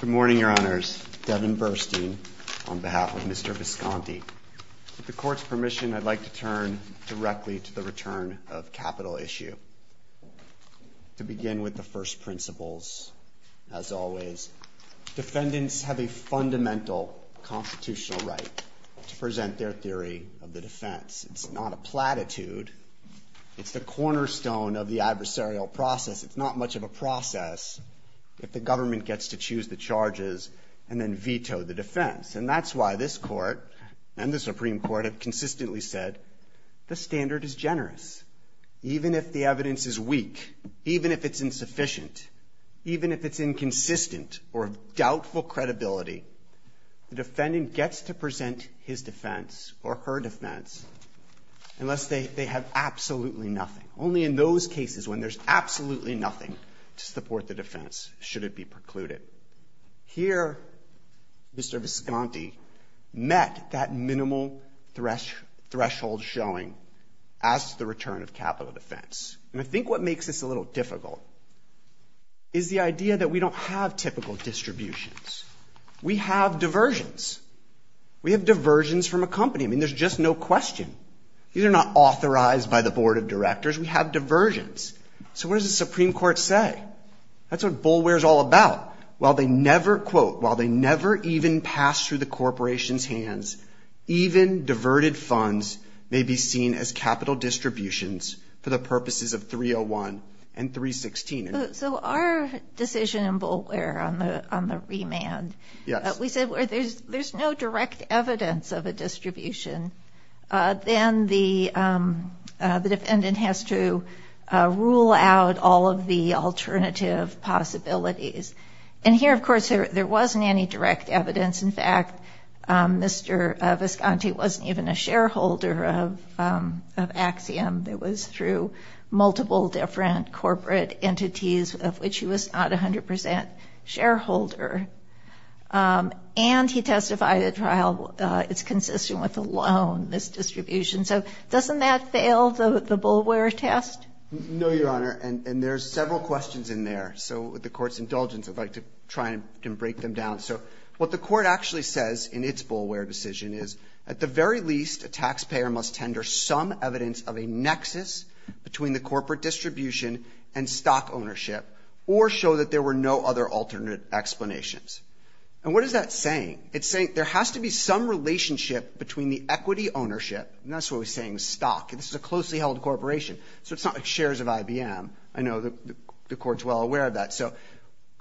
Good morning, Your Honors. Devin Burstein on behalf of Mr. Visconti. With the Court's permission, I'd like to turn directly to the return of capital issue. To begin with the first principles, as always, defendants have a fundamental constitutional right to present their theory of the defense. It's not a platitude. It's the cornerstone of the adversarial process. It's not much of a process if the government gets to choose the charges and then veto the defense. And that's why this Court and the Supreme Court have consistently said the standard is generous. Even if the evidence is weak, even if it's insufficient, even if it's inconsistent or of doubtful credibility, the defendant gets to present his defense or her defense unless they have absolutely nothing. Only in those cases when there's absolutely nothing to support the defense should it be precluded. Here, Mr. Visconti met that minimal threshold showing as to the return of capital defense. And I think what makes this a little difficult is the idea that we don't have typical distributions. We have diversions. We have diversions from a company. I mean, there's just no question. These are not authorized by the Board of Directors. We have diversions. So what does the Supreme Court say? That's what BULWARE is all about. While they never, quote, while they never even pass through the corporation's hands, even diverted funds may be seen as capital distributions for the purposes of 301 and 316. So our decision in BULWARE on the remand, we said there's no direct evidence of a distribution. Then the defendant has to rule out all of the alternative possibilities. And here, of course, there wasn't any direct evidence. In fact, Mr. Visconti wasn't even a shareholder of Axiom. It was through multiple different corporate entities of which he was not 100% shareholder. And he testified at trial it's consistent with the loan, this distribution. So doesn't that fail the BULWARE test? No, Your Honor. And there's several questions in there. So with the Court's indulgence, I'd like to try and break them down. So what the Court actually says in its BULWARE decision is at the very least, a taxpayer must tender some evidence of a nexus between the corporate distribution and stock ownership or show that there were no other alternate explanations. And what is that saying? It's saying there has to be some relationship between the equity ownership, and that's what we're saying is stock. This is a closely held corporation, so it's not shares of IBM. I know the Court's well aware of that. So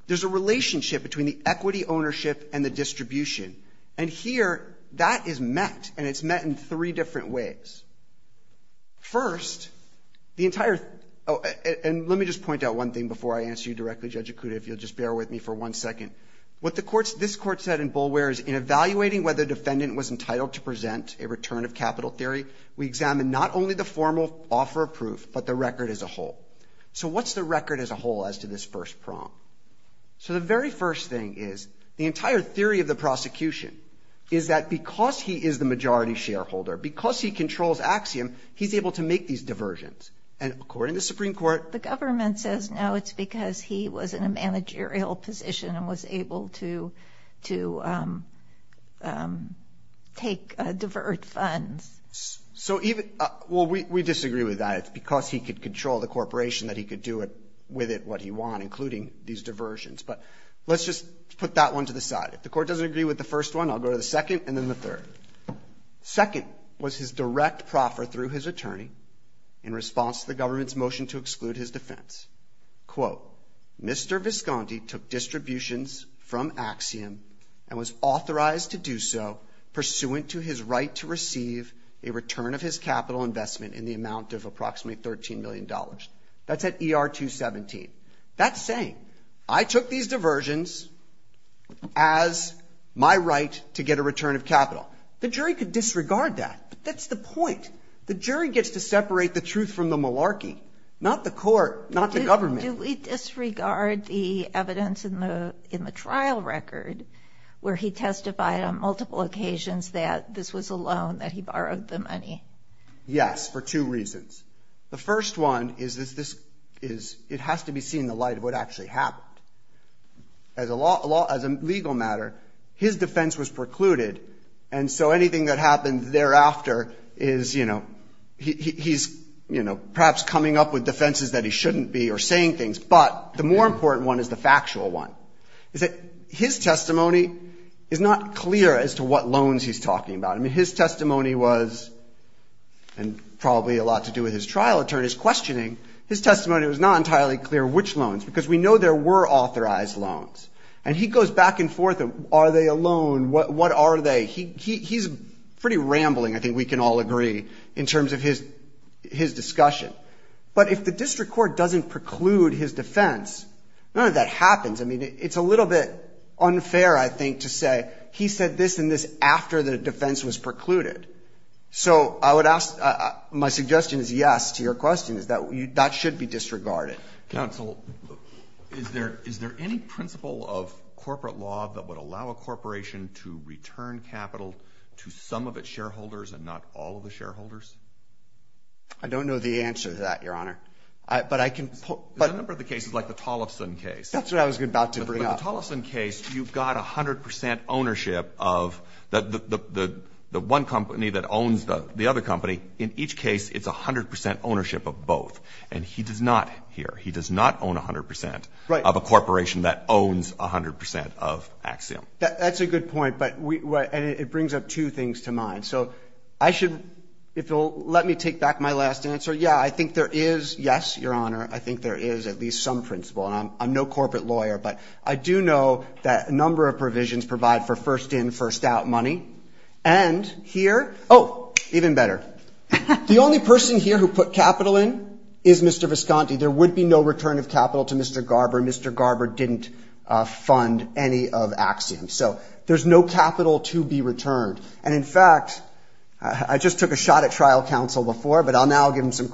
there's a relationship between the equity ownership and the distribution. And here, that is met, and it's met in three different ways. First, the entire, and let me just point out one thing before I answer you directly, Judge Acuda, if you'll just bear with me for one second. What this Court said in BULWARE is in evaluating whether a defendant was entitled to present a return of capital theory, we examine not only the formal offer of proof, but the record as a whole. So what's the record as a whole as to this first prong? So the very first thing is the entire theory of the prosecution is that because he is the majority shareholder, because he controls Axiom, he's able to make these diversions. And according to the Supreme Court. The government says no, it's because he was in a managerial position and was able to take divert funds. So even, well, we disagree with that. It's because he could control the corporation that he could do with it what he wanted, including these diversions. But let's just put that one to the side. If the Court doesn't agree with the first one, I'll go to the second and then the third. Second was his direct proffer through his attorney in response to the government's motion to exclude his defense. Quote, Mr. Visconti took distributions from Axiom and was authorized to do so pursuant to his right to receive a return of his capital investment in the amount of approximately $13 million. That's at ER 217. That's saying I took these diversions as my right to get a return of capital. The jury could disregard that, but that's the point. The jury gets to separate the truth from the malarkey, not the court, not the government. Do we disregard the evidence in the trial record where he testified on multiple occasions that this was a loan, that he borrowed the money? Yes, for two reasons. The first one is it has to be seen in the light of what actually happened. As a legal matter, his defense was precluded, and so anything that happened thereafter is, you know, he's perhaps coming up with defenses that he shouldn't be or saying things. But the more important one is the factual one. His testimony is not clear as to what loans he's talking about. I mean, his testimony was, and probably a lot to do with his trial attorney's questioning, his testimony was not entirely clear which loans, because we know there were authorized loans. And he goes back and forth, are they a loan, what are they? He's pretty rambling, I think we can all agree, in terms of his discussion. But if the district court doesn't preclude his defense, none of that happens. I mean, it's a little bit unfair, I think, to say he said this and this after the defense was precluded. So I would ask, my suggestion is yes to your question, is that that should be disregarded. Counsel, is there any principle of corporate law that would allow a corporation to return capital to some of its shareholders and not all of the shareholders? I don't know the answer to that, Your Honor. But I can put. There's a number of the cases, like the Tollefson case. That's what I was about to bring up. In the Tollefson case, you've got 100 percent ownership of the one company that owns the other company. In each case, it's 100 percent ownership of both. And he does not here, he does not own 100 percent of a corporation that owns 100 percent of Axiom. That's a good point. And it brings up two things to mind. So I should, if you'll let me take back my last answer, yeah, I think there is, yes, Your Honor, I think there is at least some principle. And I'm no corporate lawyer, but I do know that a number of provisions provide for first-in, first-out money. And here, oh, even better. The only person here who put capital in is Mr. Visconti. There would be no return of capital to Mr. Garber. Mr. Garber didn't fund any of Axiom. So there's no capital to be returned. And, in fact, I just took a shot at trial counsel before, but I'll now give him some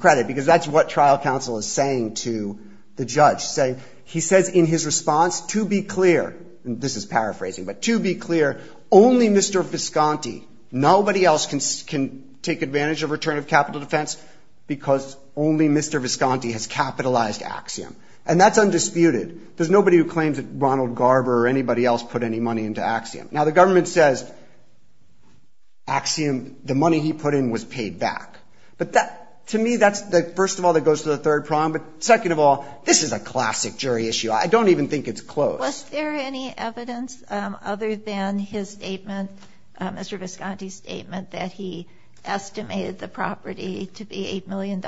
He says in his response, to be clear, and this is paraphrasing, but to be clear, only Mr. Visconti, nobody else can take advantage of return of capital defense because only Mr. Visconti has capitalized Axiom. And that's undisputed. There's nobody who claims that Ronald Garber or anybody else put any money into Axiom. Now, the government says Axiom, the money he put in was paid back. But that, to me, that's the first of all that goes to the third prong. But, second of all, this is a classic jury issue. I don't even think it's close. Was there any evidence other than his statement, Mr. Visconti's statement, that he estimated the property to be $8 million?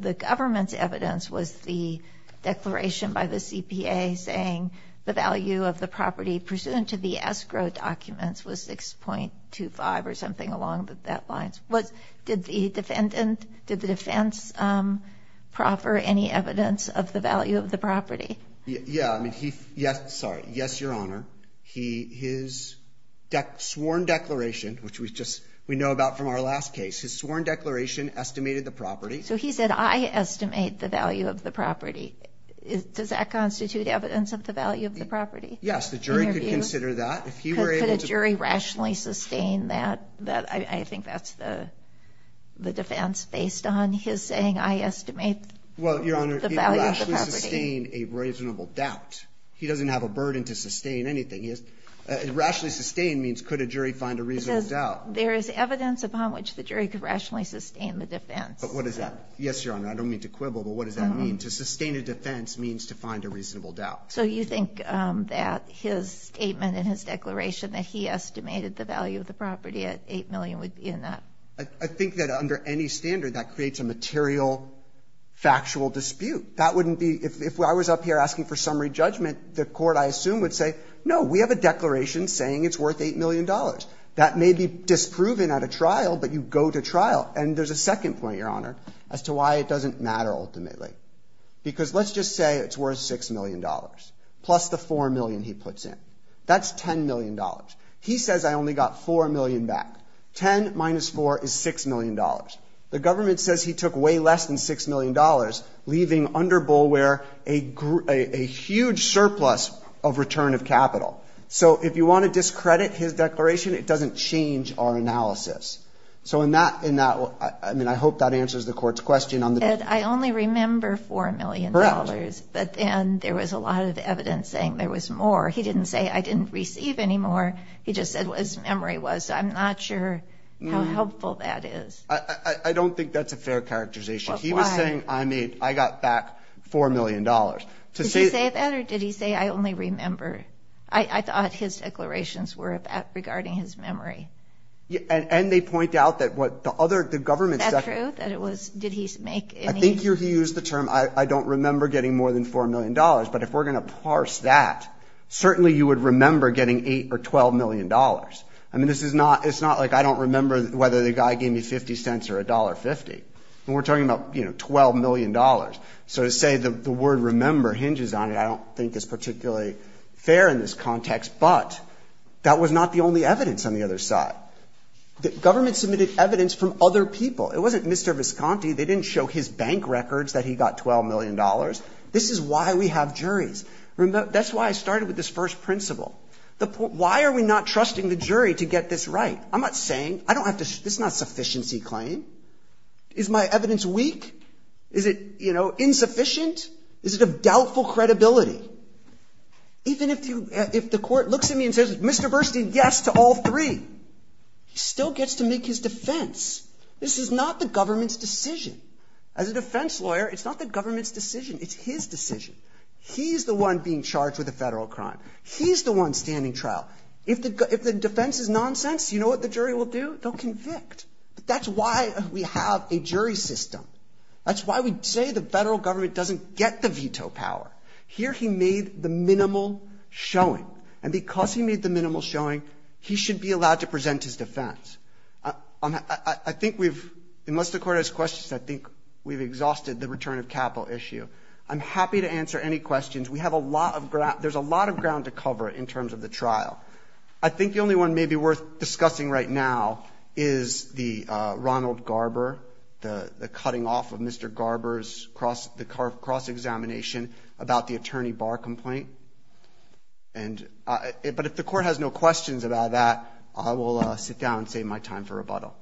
The government's evidence was the declaration by the CPA saying the value of the property pursuant to the escrow documents was 6.25 or something along that line. Did the defendant, did the defense, proffer any evidence of the value of the property? Yes, Your Honor. His sworn declaration, which we know about from our last case, his sworn declaration estimated the property. So he said, I estimate the value of the property. Does that constitute evidence of the value of the property? Yes, the jury could consider that. Could a jury rationally sustain that? I think that's the defense based on his saying, I estimate the value of the property. Well, Your Honor, he could rationally sustain a reasonable doubt. He doesn't have a burden to sustain anything. Rationally sustain means could a jury find a reasonable doubt. Because there is evidence upon which the jury could rationally sustain the defense. But what does that mean? Yes, Your Honor, I don't mean to quibble, but what does that mean? To sustain a defense means to find a reasonable doubt. So you think that his statement and his declaration that he estimated the value of the property at $8 million would be in that? I think that under any standard that creates a material factual dispute. That wouldn't be, if I was up here asking for summary judgment, the court, I assume, would say, no, we have a declaration saying it's worth $8 million. That may be disproven at a trial, but you go to trial. And there's a second point, Your Honor, as to why it doesn't matter ultimately. Because let's just say it's worth $6 million, plus the $4 million he puts in. That's $10 million. He says I only got $4 million back. Ten minus four is $6 million. The government says he took way less than $6 million, leaving under Boulware a huge surplus of return of capital. So if you want to discredit his declaration, it doesn't change our analysis. So in that, I mean, I hope that answers the court's question on the document. He said I only remember $4 million. Correct. But then there was a lot of evidence saying there was more. He didn't say I didn't receive any more. He just said what his memory was. So I'm not sure how helpful that is. I don't think that's a fair characterization. He was saying I got back $4 million. Did he say that or did he say I only remember? I thought his declarations were regarding his memory. And they point out that what the government said. Is that true? That it was, did he make any? I think he used the term I don't remember getting more than $4 million. But if we're going to parse that, certainly you would remember getting $8 or $12 million. I mean, this is not, it's not like I don't remember whether the guy gave me 50 cents or $1.50. We're talking about, you know, $12 million. So to say the word remember hinges on it, I don't think is particularly fair in this context. But that was not the only evidence on the other side. The government submitted evidence from other people. It wasn't Mr. Visconti. They didn't show his bank records that he got $12 million. This is why we have juries. That's why I started with this first principle. Why are we not trusting the jury to get this right? I'm not saying, I don't have to, this is not a sufficiency claim. Is my evidence weak? Is it, you know, insufficient? Is it of doubtful credibility? Even if you, if the Court looks at me and says, Mr. Burstein, yes to all three. He still gets to make his defense. This is not the government's decision. As a defense lawyer, it's not the government's decision. It's his decision. He's the one being charged with a Federal crime. He's the one standing trial. If the defense is nonsense, you know what the jury will do? They'll convict. That's why we have a jury system. That's why we say the Federal government doesn't get the veto power. Here he made the minimal showing. And because he made the minimal showing, he should be allowed to present his defense. I think we've, unless the Court has questions, I think we've exhausted the return of capital issue. I'm happy to answer any questions. We have a lot of, there's a lot of ground to cover in terms of the trial. I think the only one maybe worth discussing right now is the Ronald Garber, the cutting off of Mr. Garber's cross, the cross-examination about the attorney bar complaint. But if the Court has no questions about that, I will sit down and save my time for rebuttal.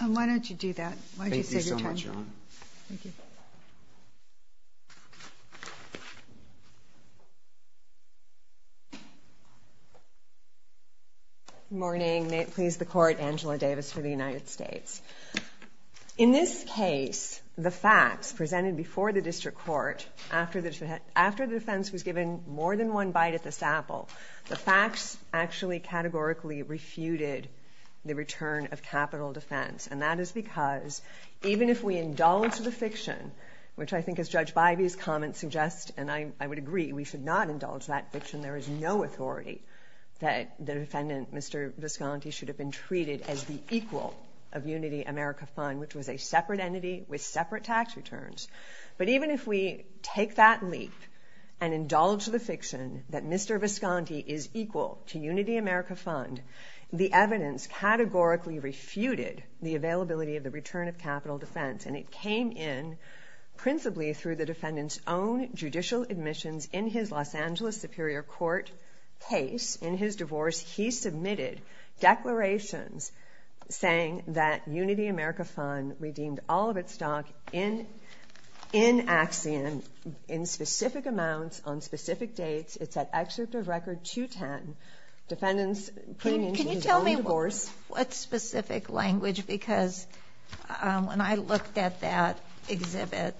Why don't you do that? Why don't you save your time? Thank you so much, Ron. Thank you. Good morning. May it please the Court, Angela Davis for the United States. In this case, the facts presented before the District Court, after the defense was given more than one bite at the saple, the facts actually categorically refuted the return of capital defense. And that is because even if we indulge the fiction, which I think as Judge Bivey's comments suggest, and I would agree, we should not indulge that fiction. There is no authority that the defendant, Mr. Visconti, should have been treated as the equal of Unity America Fund, which was a separate entity with separate tax returns. But even if we take that leap and indulge the fiction that Mr. Visconti is equal to Unity America Fund, the evidence categorically refuted the availability of the return of capital defense. And it came in principally through the defendant's own judicial admissions in his Los Angeles Superior Court case. In his divorce, he submitted declarations saying that Unity America Fund redeemed all of its stock in Axiom, in specific amounts, on specific dates. It's at excerpt of Record 210. Defendants came into his own divorce. What specific language? Because when I looked at that exhibit,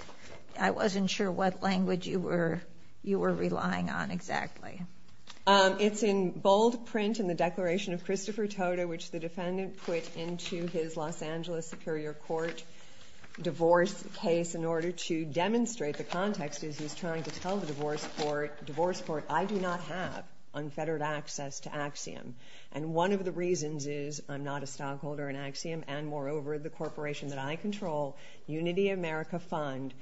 I wasn't sure what language you were relying on exactly. It's in bold print in the Declaration of Christopher Toto, which the defendant put into his Los Angeles Superior Court divorce case in order to demonstrate the context. He's trying to tell the divorce court, divorce court, I do not have unfettered access to Axiom. And one of the reasons is I'm not a stockholder in Axiom, and moreover, the corporation that I control, Unity America Fund,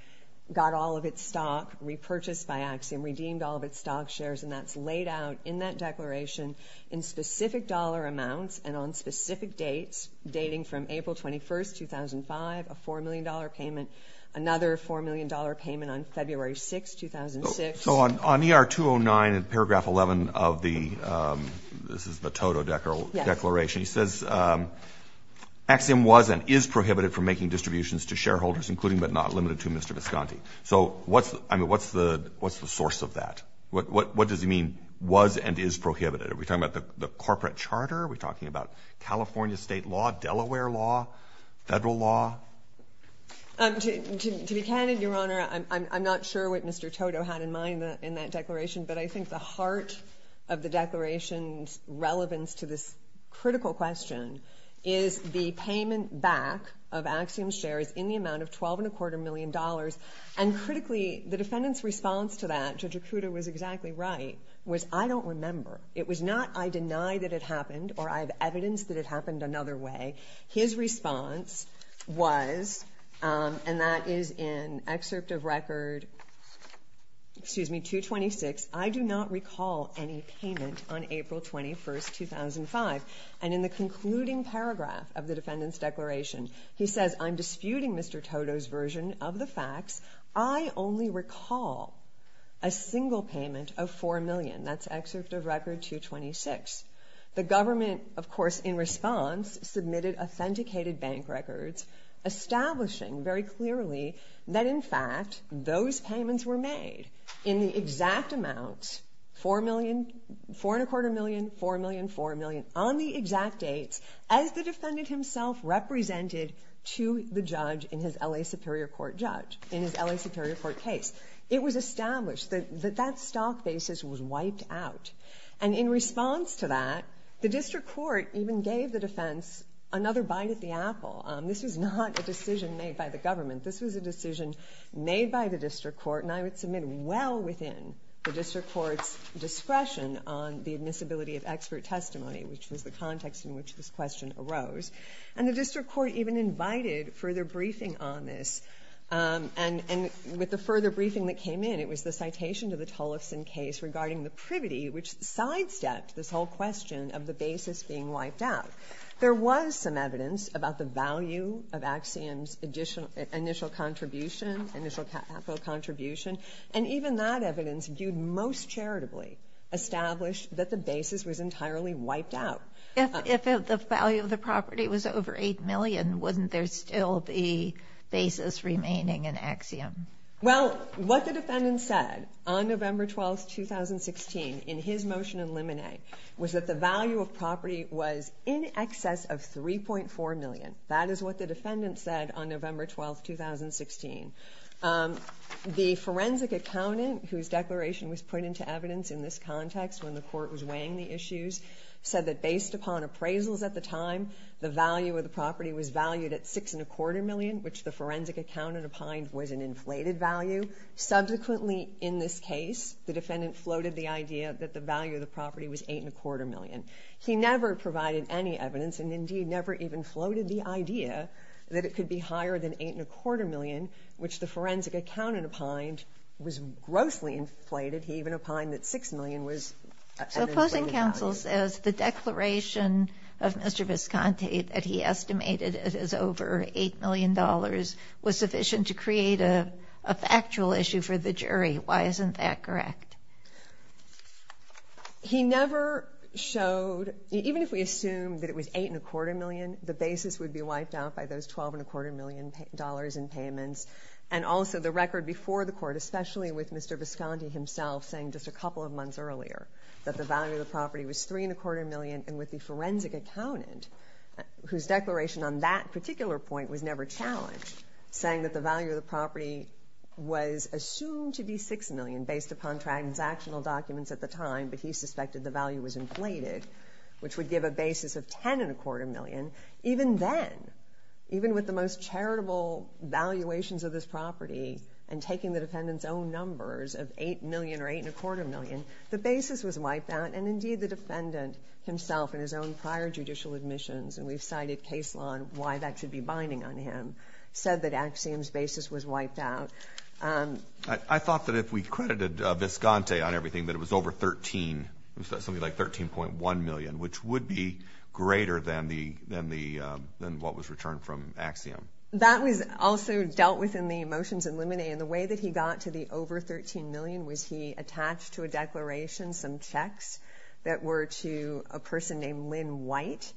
got all of its stock repurchased by Axiom, redeemed all of its stock shares, and that's laid out in that declaration in specific dollar amounts and on specific dates, dating from April 21, 2005, a $4 million payment, another $4 million payment on February 6, 2006. So on ER 209 in paragraph 11 of the, this is the Toto Declaration, he says Axiom was and is prohibited from making distributions to shareholders, including but not limited to Mr. Visconti. So what's the source of that? What does he mean, was and is prohibited? Are we talking about the corporate charter? Are we talking about California state law, Delaware law, federal law? To be candid, Your Honor, I'm not sure what Mr. Toto had in mind in that declaration, but I think the heart of the declaration's relevance to this critical question is the payment back of Axiom's shares in the amount of $12.25 million. And critically, the defendant's response to that, Judge Acuda was exactly right, was I don't remember. It was not I deny that it happened or I have evidence that it happened another way. His response was, and that is in Excerpt of Record 226, I do not recall any payment on April 21, 2005. And in the concluding paragraph of the defendant's declaration, he says, I'm disputing Mr. Toto's version of the facts. I only recall a single payment of $4 million. That's Excerpt of Record 226. The government, of course, in response, submitted authenticated bank records establishing very clearly that, in fact, those payments were made in the exact amount, $4.25 million, $4 million, $4 million, on the exact dates as the defendant himself represented to the judge in his L.A. Superior Court case. It was established that that stock basis was wiped out. And in response to that, the district court even gave the defense another bite at the apple. This was not a decision made by the government. This was a decision made by the district court, and I would submit well within the district court's discretion on the admissibility of expert testimony, which was the context in which this question arose. And the district court even invited further briefing on this. And with the further briefing that came in, it was the citation to the Tolufson case regarding the privity which sidestepped this whole question of the basis being wiped out. There was some evidence about the value of Axiom's initial contribution, initial capital contribution, and even that evidence viewed most charitably established that the basis was entirely wiped out. If the value of the property was over $8 million, wouldn't there still be basis remaining in Axiom? Well, what the defendant said on November 12, 2016 in his motion in limine was that the value of property was in excess of $3.4 million. That is what the defendant said on November 12, 2016. The forensic accountant whose declaration was put into evidence in this context when the court was weighing the issues said that based upon appraisals at the time, the value of the property was valued at $6.25 million, which the forensic accountant opined was an inflated value. Subsequently, in this case, the defendant floated the idea that the value of the property was $8.25 million. He never provided any evidence and, indeed, never even floated the idea that it could be higher than $8.25 million, which the forensic accountant opined was grossly inflated. He even opined that $6 million was an inflated value. So opposing counsel says the declaration of Mr. Visconti that he estimated as over $8 million was sufficient to create a factual issue for the jury. Why isn't that correct? He never showed, even if we assume that it was $8.25 million, the basis would be wiped out by those $12.25 million in payments and also the record before the court, especially with Mr. Visconti himself saying just a couple of months earlier that the value of the property was $3.25 million and with the forensic accountant, whose declaration on that particular point was never challenged, saying that the value of the property was assumed to be $6 million based upon transactional documents at the time, but he suspected the value was inflated, which would give a basis of $10.25 million. Even then, even with the most charitable valuations of this property and taking the defendant's own numbers of $8 million or $8.25 million, the basis was wiped out, and indeed the defendant himself in his own prior judicial admissions, and we've cited case law on why that should be binding on him, said that Axiom's basis was wiped out. I thought that if we credited Visconti on everything that it was over $13, something like $13.1 million, which would be greater than what was returned from Axiom. That was also dealt with in the motions eliminated. The way that he got to the over $13 million was he attached to a declaration some checks that were to a person named Lynn White.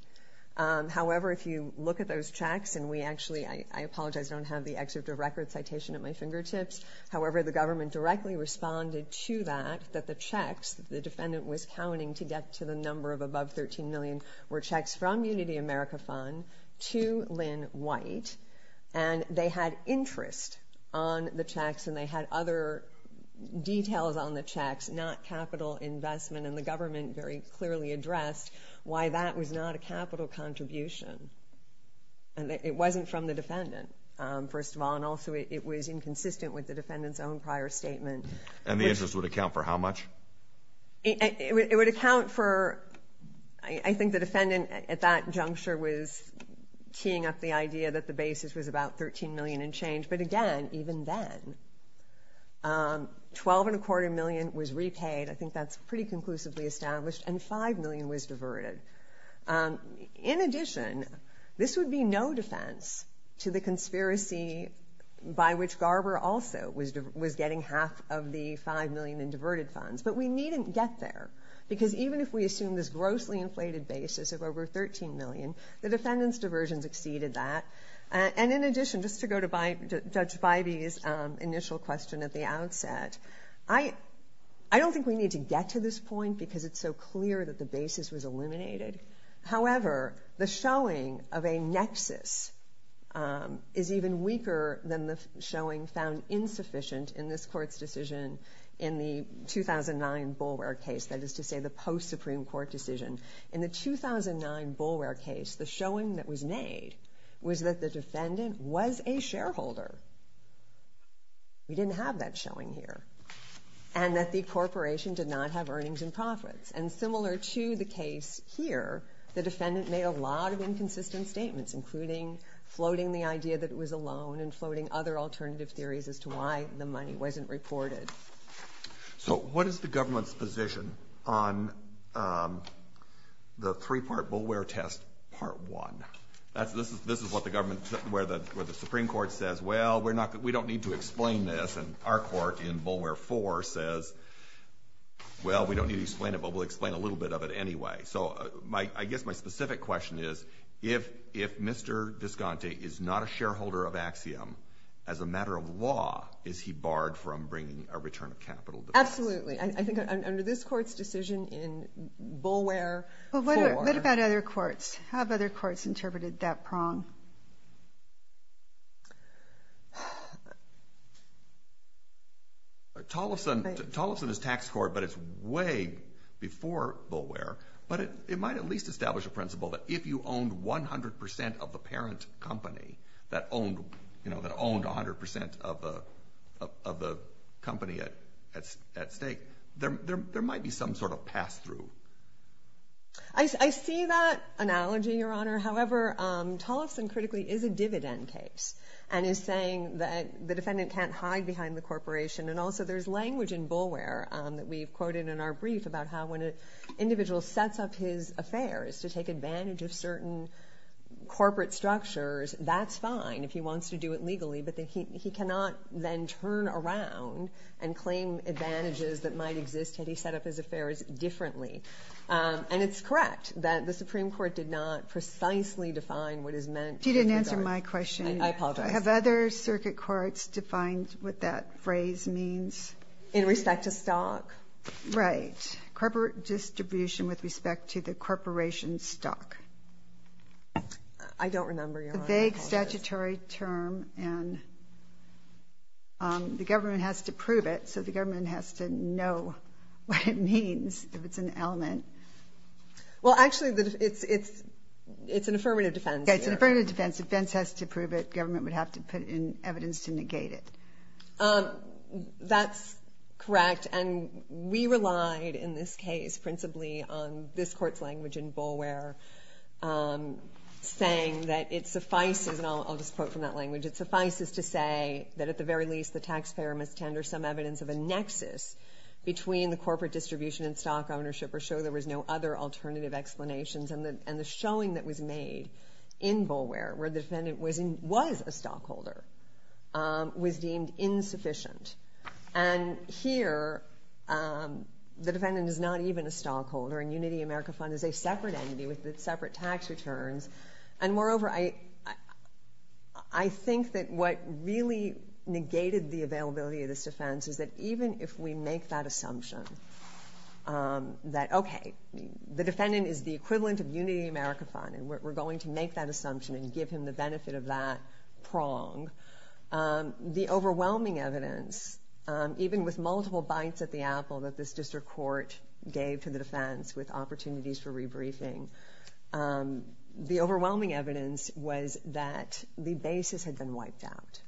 However, if you look at those checks, and we actually, I apologize, don't have the excerpt of record citation at my fingertips. However, the government directly responded to that, that the checks the defendant was counting to get to the number of above $13 million were checks from Unity America Fund to Lynn White, and they had interest on the checks and they had other details on the checks, not capital investment, and the government very clearly addressed why that was not a capital contribution. It wasn't from the defendant, first of all, and also it was inconsistent with the defendant's own prior statement. And the interest would account for how much? It would account for, I think the defendant at that juncture was teeing up the idea that the basis was about $13 million and change, but again, even then, $12.25 million was repaid, I think that's pretty conclusively established, and $5 million was diverted. In addition, this would be no defense to the conspiracy by which Garber also was getting half of the $5 million in diverted funds, but we needn't get there, because even if we assume this grossly inflated basis of over $13 million, the defendant's diversions exceeded that. And in addition, just to go to Judge Bivey's initial question at the outset, I don't think we need to get to this point because it's so clear that the basis was eliminated. However, the showing of a nexus is even weaker than the showing found insufficient in this Court's decision in the 2009 Boulware case, that is to say the post-Supreme Court decision. In the 2009 Boulware case, the showing that was made was that the defendant was a shareholder. We didn't have that showing here. And that the corporation did not have earnings and profits. And similar to the case here, the defendant made a lot of inconsistent statements, including floating the idea that it was a loan and floating other alternative theories as to why the money wasn't reported. So what is the government's position on the three-part Boulware test Part 1? This is what the government, where the Supreme Court says, well, we don't need to explain this. And our court in Boulware 4 says, well, we don't need to explain it, but we'll explain a little bit of it anyway. So I guess my specific question is, as a matter of law, is he barred from bringing a return of capital defense? Absolutely. I think under this Court's decision in Boulware 4... But what about other courts? How have other courts interpreted that prong? Tolleson is tax court, but it's way before Boulware. But it might at least establish a principle that if you owned 100% of the parent company that owned 100% of the company at stake, there might be some sort of pass-through. I see that analogy, Your Honor. However, Tolleson, critically, is a dividend case and is saying that the defendant can't hide behind the corporation. And also there's language in Boulware that we've quoted in our brief about how when an individual sets up his affairs to take advantage of certain corporate structures, that's fine if he wants to do it legally, but he cannot then turn around and claim advantages that might exist had he set up his affairs differently. And it's correct that the Supreme Court did not precisely define what is meant... You didn't answer my question. I apologize. Have other circuit courts defined what that phrase means? In respect to stock? Right. Corporate distribution with respect to the corporation's stock. I don't remember, Your Honor. It's a vague statutory term, and the government has to prove it, so the government has to know what it means if it's an element. Well, actually, it's an affirmative defense. It's an affirmative defense. Defense has to prove it. Government would have to put in evidence to negate it. That's correct, and we relied in this case principally on this Court's language in Boulware saying that it suffices, and I'll just quote from that language, it suffices to say that at the very least the taxpayer must tender some evidence of a nexus between the corporate distribution and stock ownership or show there was no other alternative explanations, and the showing that was made in Boulware where the defendant was a stockholder was deemed insufficient, and here the defendant is not even a stockholder, and Unity America Fund is a separate entity with separate tax returns, and moreover, I think that what really negated the availability of this defense is that even if we make that assumption that, okay, the defendant is the equivalent of Unity America Fund, and we're going to make that assumption and give him the benefit of that prong, the overwhelming evidence, even with multiple bites at the apple that this district court gave to the defense with opportunities for rebriefing, the overwhelming evidence was that the basis had been wiped out.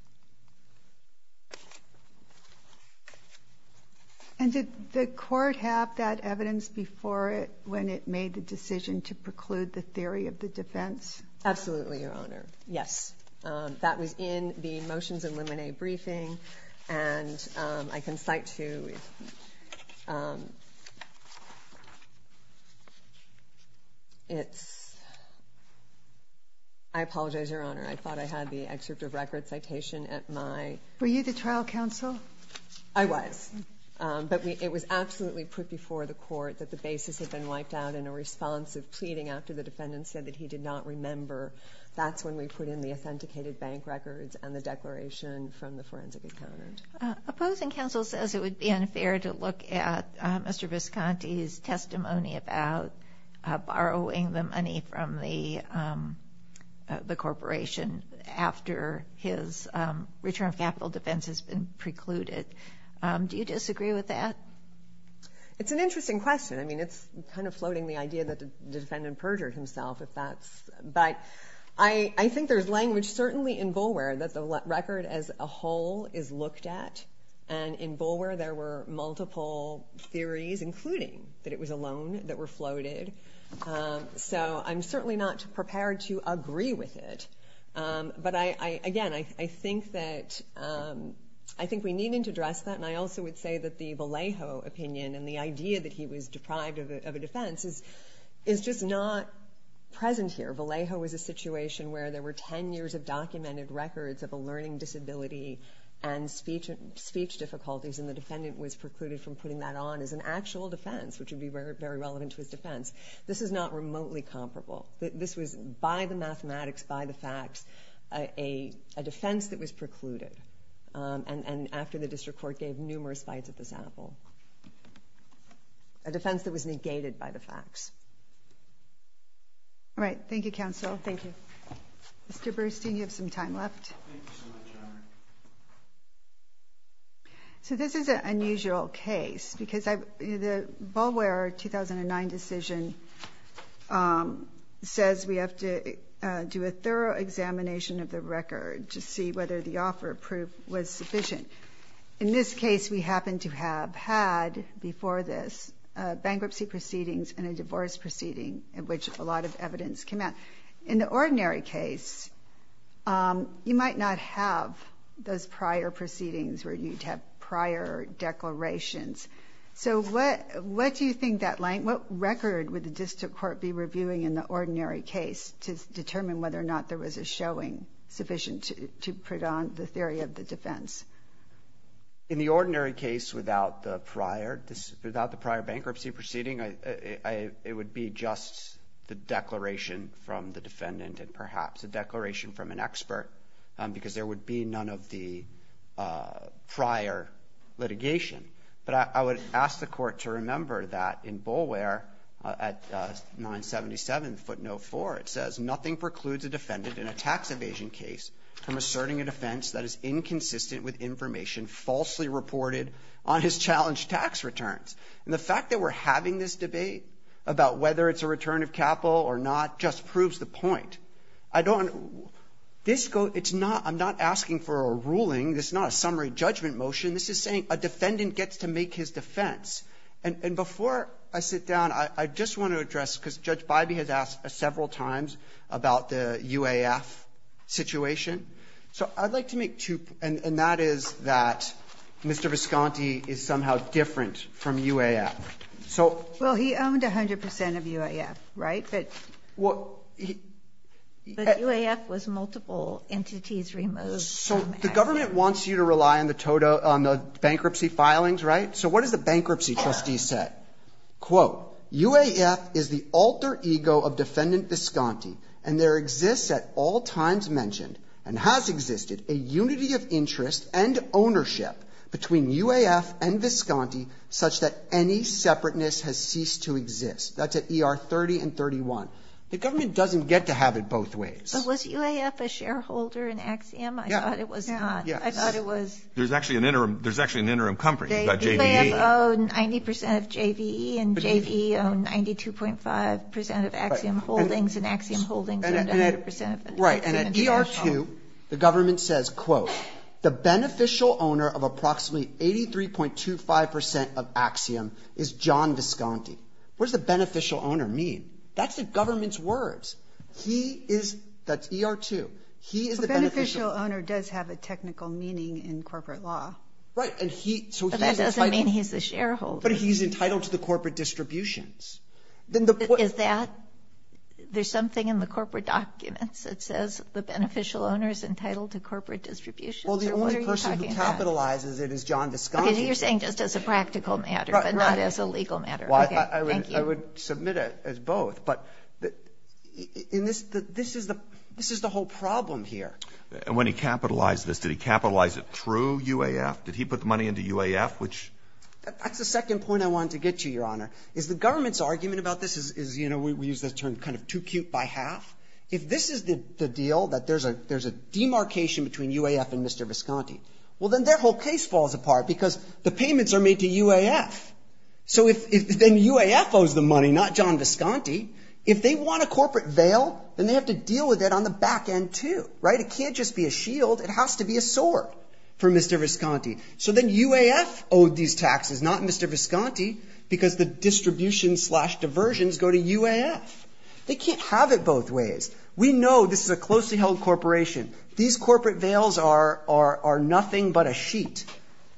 And did the court have that evidence before it made the decision to preclude the theory of the defense? Absolutely, Your Honor. Yes. That was in the motions and limine briefing, and I can cite to you. I apologize, Your Honor. I thought I had the excerpt of record citation at my... Were you the trial counsel? I was, but it was absolutely put before the court that the basis had been wiped out in a response of pleading after the defendant said that he did not remember. That's when we put in the authenticated bank records and the declaration from the forensic accountant. Opposing counsel says it would be unfair to look at Mr. Visconti's testimony about borrowing the money from the corporation after his return of capital defense has been precluded. Do you disagree with that? It's an interesting question. I mean, it's kind of floating the idea that the defendant perjured himself. But I think there's language certainly in Boulware that the record as a whole is looked at, and in Boulware there were multiple theories, including that it was a loan that were floated. So I'm certainly not prepared to agree with it. But, again, I think we needed to address that, and I also would say that the Vallejo opinion and the idea that he was deprived of a defense is just not present here. Vallejo was a situation where there were 10 years of documented records of a learning disability and speech difficulties, and the defendant was precluded from putting that on as an actual defense, which would be very relevant to his defense. This is not remotely comparable. This was by the mathematics, by the facts, a defense that was precluded. And after the district court gave numerous bites at this apple. A defense that was negated by the facts. All right, thank you, counsel. Thank you. Mr. Bernstein, you have some time left. Thank you so much, Honor. So this is an unusual case because the Boulware 2009 decision says we have to do a thorough examination of the record to see whether the offer of proof was sufficient. In this case, we happen to have had before this bankruptcy proceedings and a divorce proceeding in which a lot of evidence came out. In the ordinary case, you might not have those prior proceedings where you'd have prior declarations. So what do you think that length, what record would the district court be reviewing in the ordinary case to determine whether or not there was a showing sufficient to put on the theory of the defense? In the ordinary case, without the prior bankruptcy proceeding, it would be just the declaration from the defendant and perhaps a declaration from an expert because there would be none of the prior litigation. But I would ask the court to remember that in Boulware, at 977 foot 04, it says, nothing precludes a defendant in a tax evasion case from asserting a defense that is inconsistent with information falsely reported on his challenged tax returns. And the fact that we're having this debate about whether it's a return of capital or not just proves the point. I don't know. I'm not asking for a ruling. This is not a summary judgment motion. This is saying a defendant gets to make his defense. And before I sit down, I just want to address, because Judge Bybee has asked several times about the UAF situation. So I'd like to make two points, and that is that Mr. Visconti is somehow different from UAF. So he owned 100 percent of UAF, right? But UAF was multiple entities removed. So the government wants you to rely on the bankruptcy filings, right? So what does the bankruptcy trustee say? Quote, UAF is the alter ego of defendant Visconti, and there exists at all times mentioned, and has existed, a unity of interest and ownership between UAF and Visconti such that any separateness has ceased to exist. That's at ER 30 and 31. The government doesn't get to have it both ways. But was UAF a shareholder in Axiom? I thought it was not. I thought it was. There's actually an interim company called JVE. UAF owned 90 percent of JVE, and JVE owned 92.5 percent of Axiom Holdings, and Axiom Holdings owned 100 percent of Axiom. Right, and at ER 2, the government says, quote, the beneficial owner of approximately 83.25 percent of Axiom is John Visconti. What does the beneficial owner mean? That's the government's words. He is, that's ER 2, he is the beneficial owner. The beneficial owner does have a technical meaning in corporate law. Right. But that doesn't mean he's a shareholder. But he's entitled to the corporate distributions. Is that, there's something in the corporate documents that says the beneficial owner is entitled to corporate distributions, or what are you talking about? Well, the only person who capitalizes it is John Visconti. Okay, you're saying just as a practical matter, but not as a legal matter. I would submit it as both. But this is the whole problem here. And when he capitalized this, did he capitalize it through UAF? Did he put the money into UAF, which? That's the second point I wanted to get to, Your Honor, is the government's argument about this is, you know, we use the term kind of too cute by half. If this is the deal, that there's a demarcation between UAF and Mr. Visconti, well, then their whole case falls apart because the payments are made to UAF. So if then UAF owes the money, not John Visconti. If they want a corporate veil, then they have to deal with it on the back end, too, right? It can't just be a shield. It has to be a sword for Mr. Visconti. So then UAF owed these taxes, not Mr. Visconti, because the distribution slash diversions go to UAF. They can't have it both ways. We know this is a closely held corporation. These corporate veils are nothing but a sheet.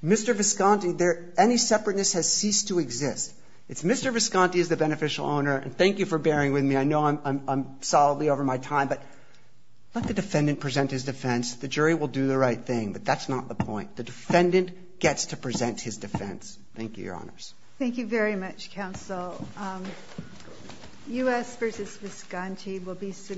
Mr. Visconti, any separateness has ceased to exist. It's Mr. Visconti is the beneficial owner, and thank you for bearing with me. I know I'm solidly over my time, but let the defendant present his defense. The jury will do the right thing, but that's not the point. The defendant gets to present his defense. Thank you, Your Honors. Thank you very much, Counsel. U.S. versus Visconti will be submitted.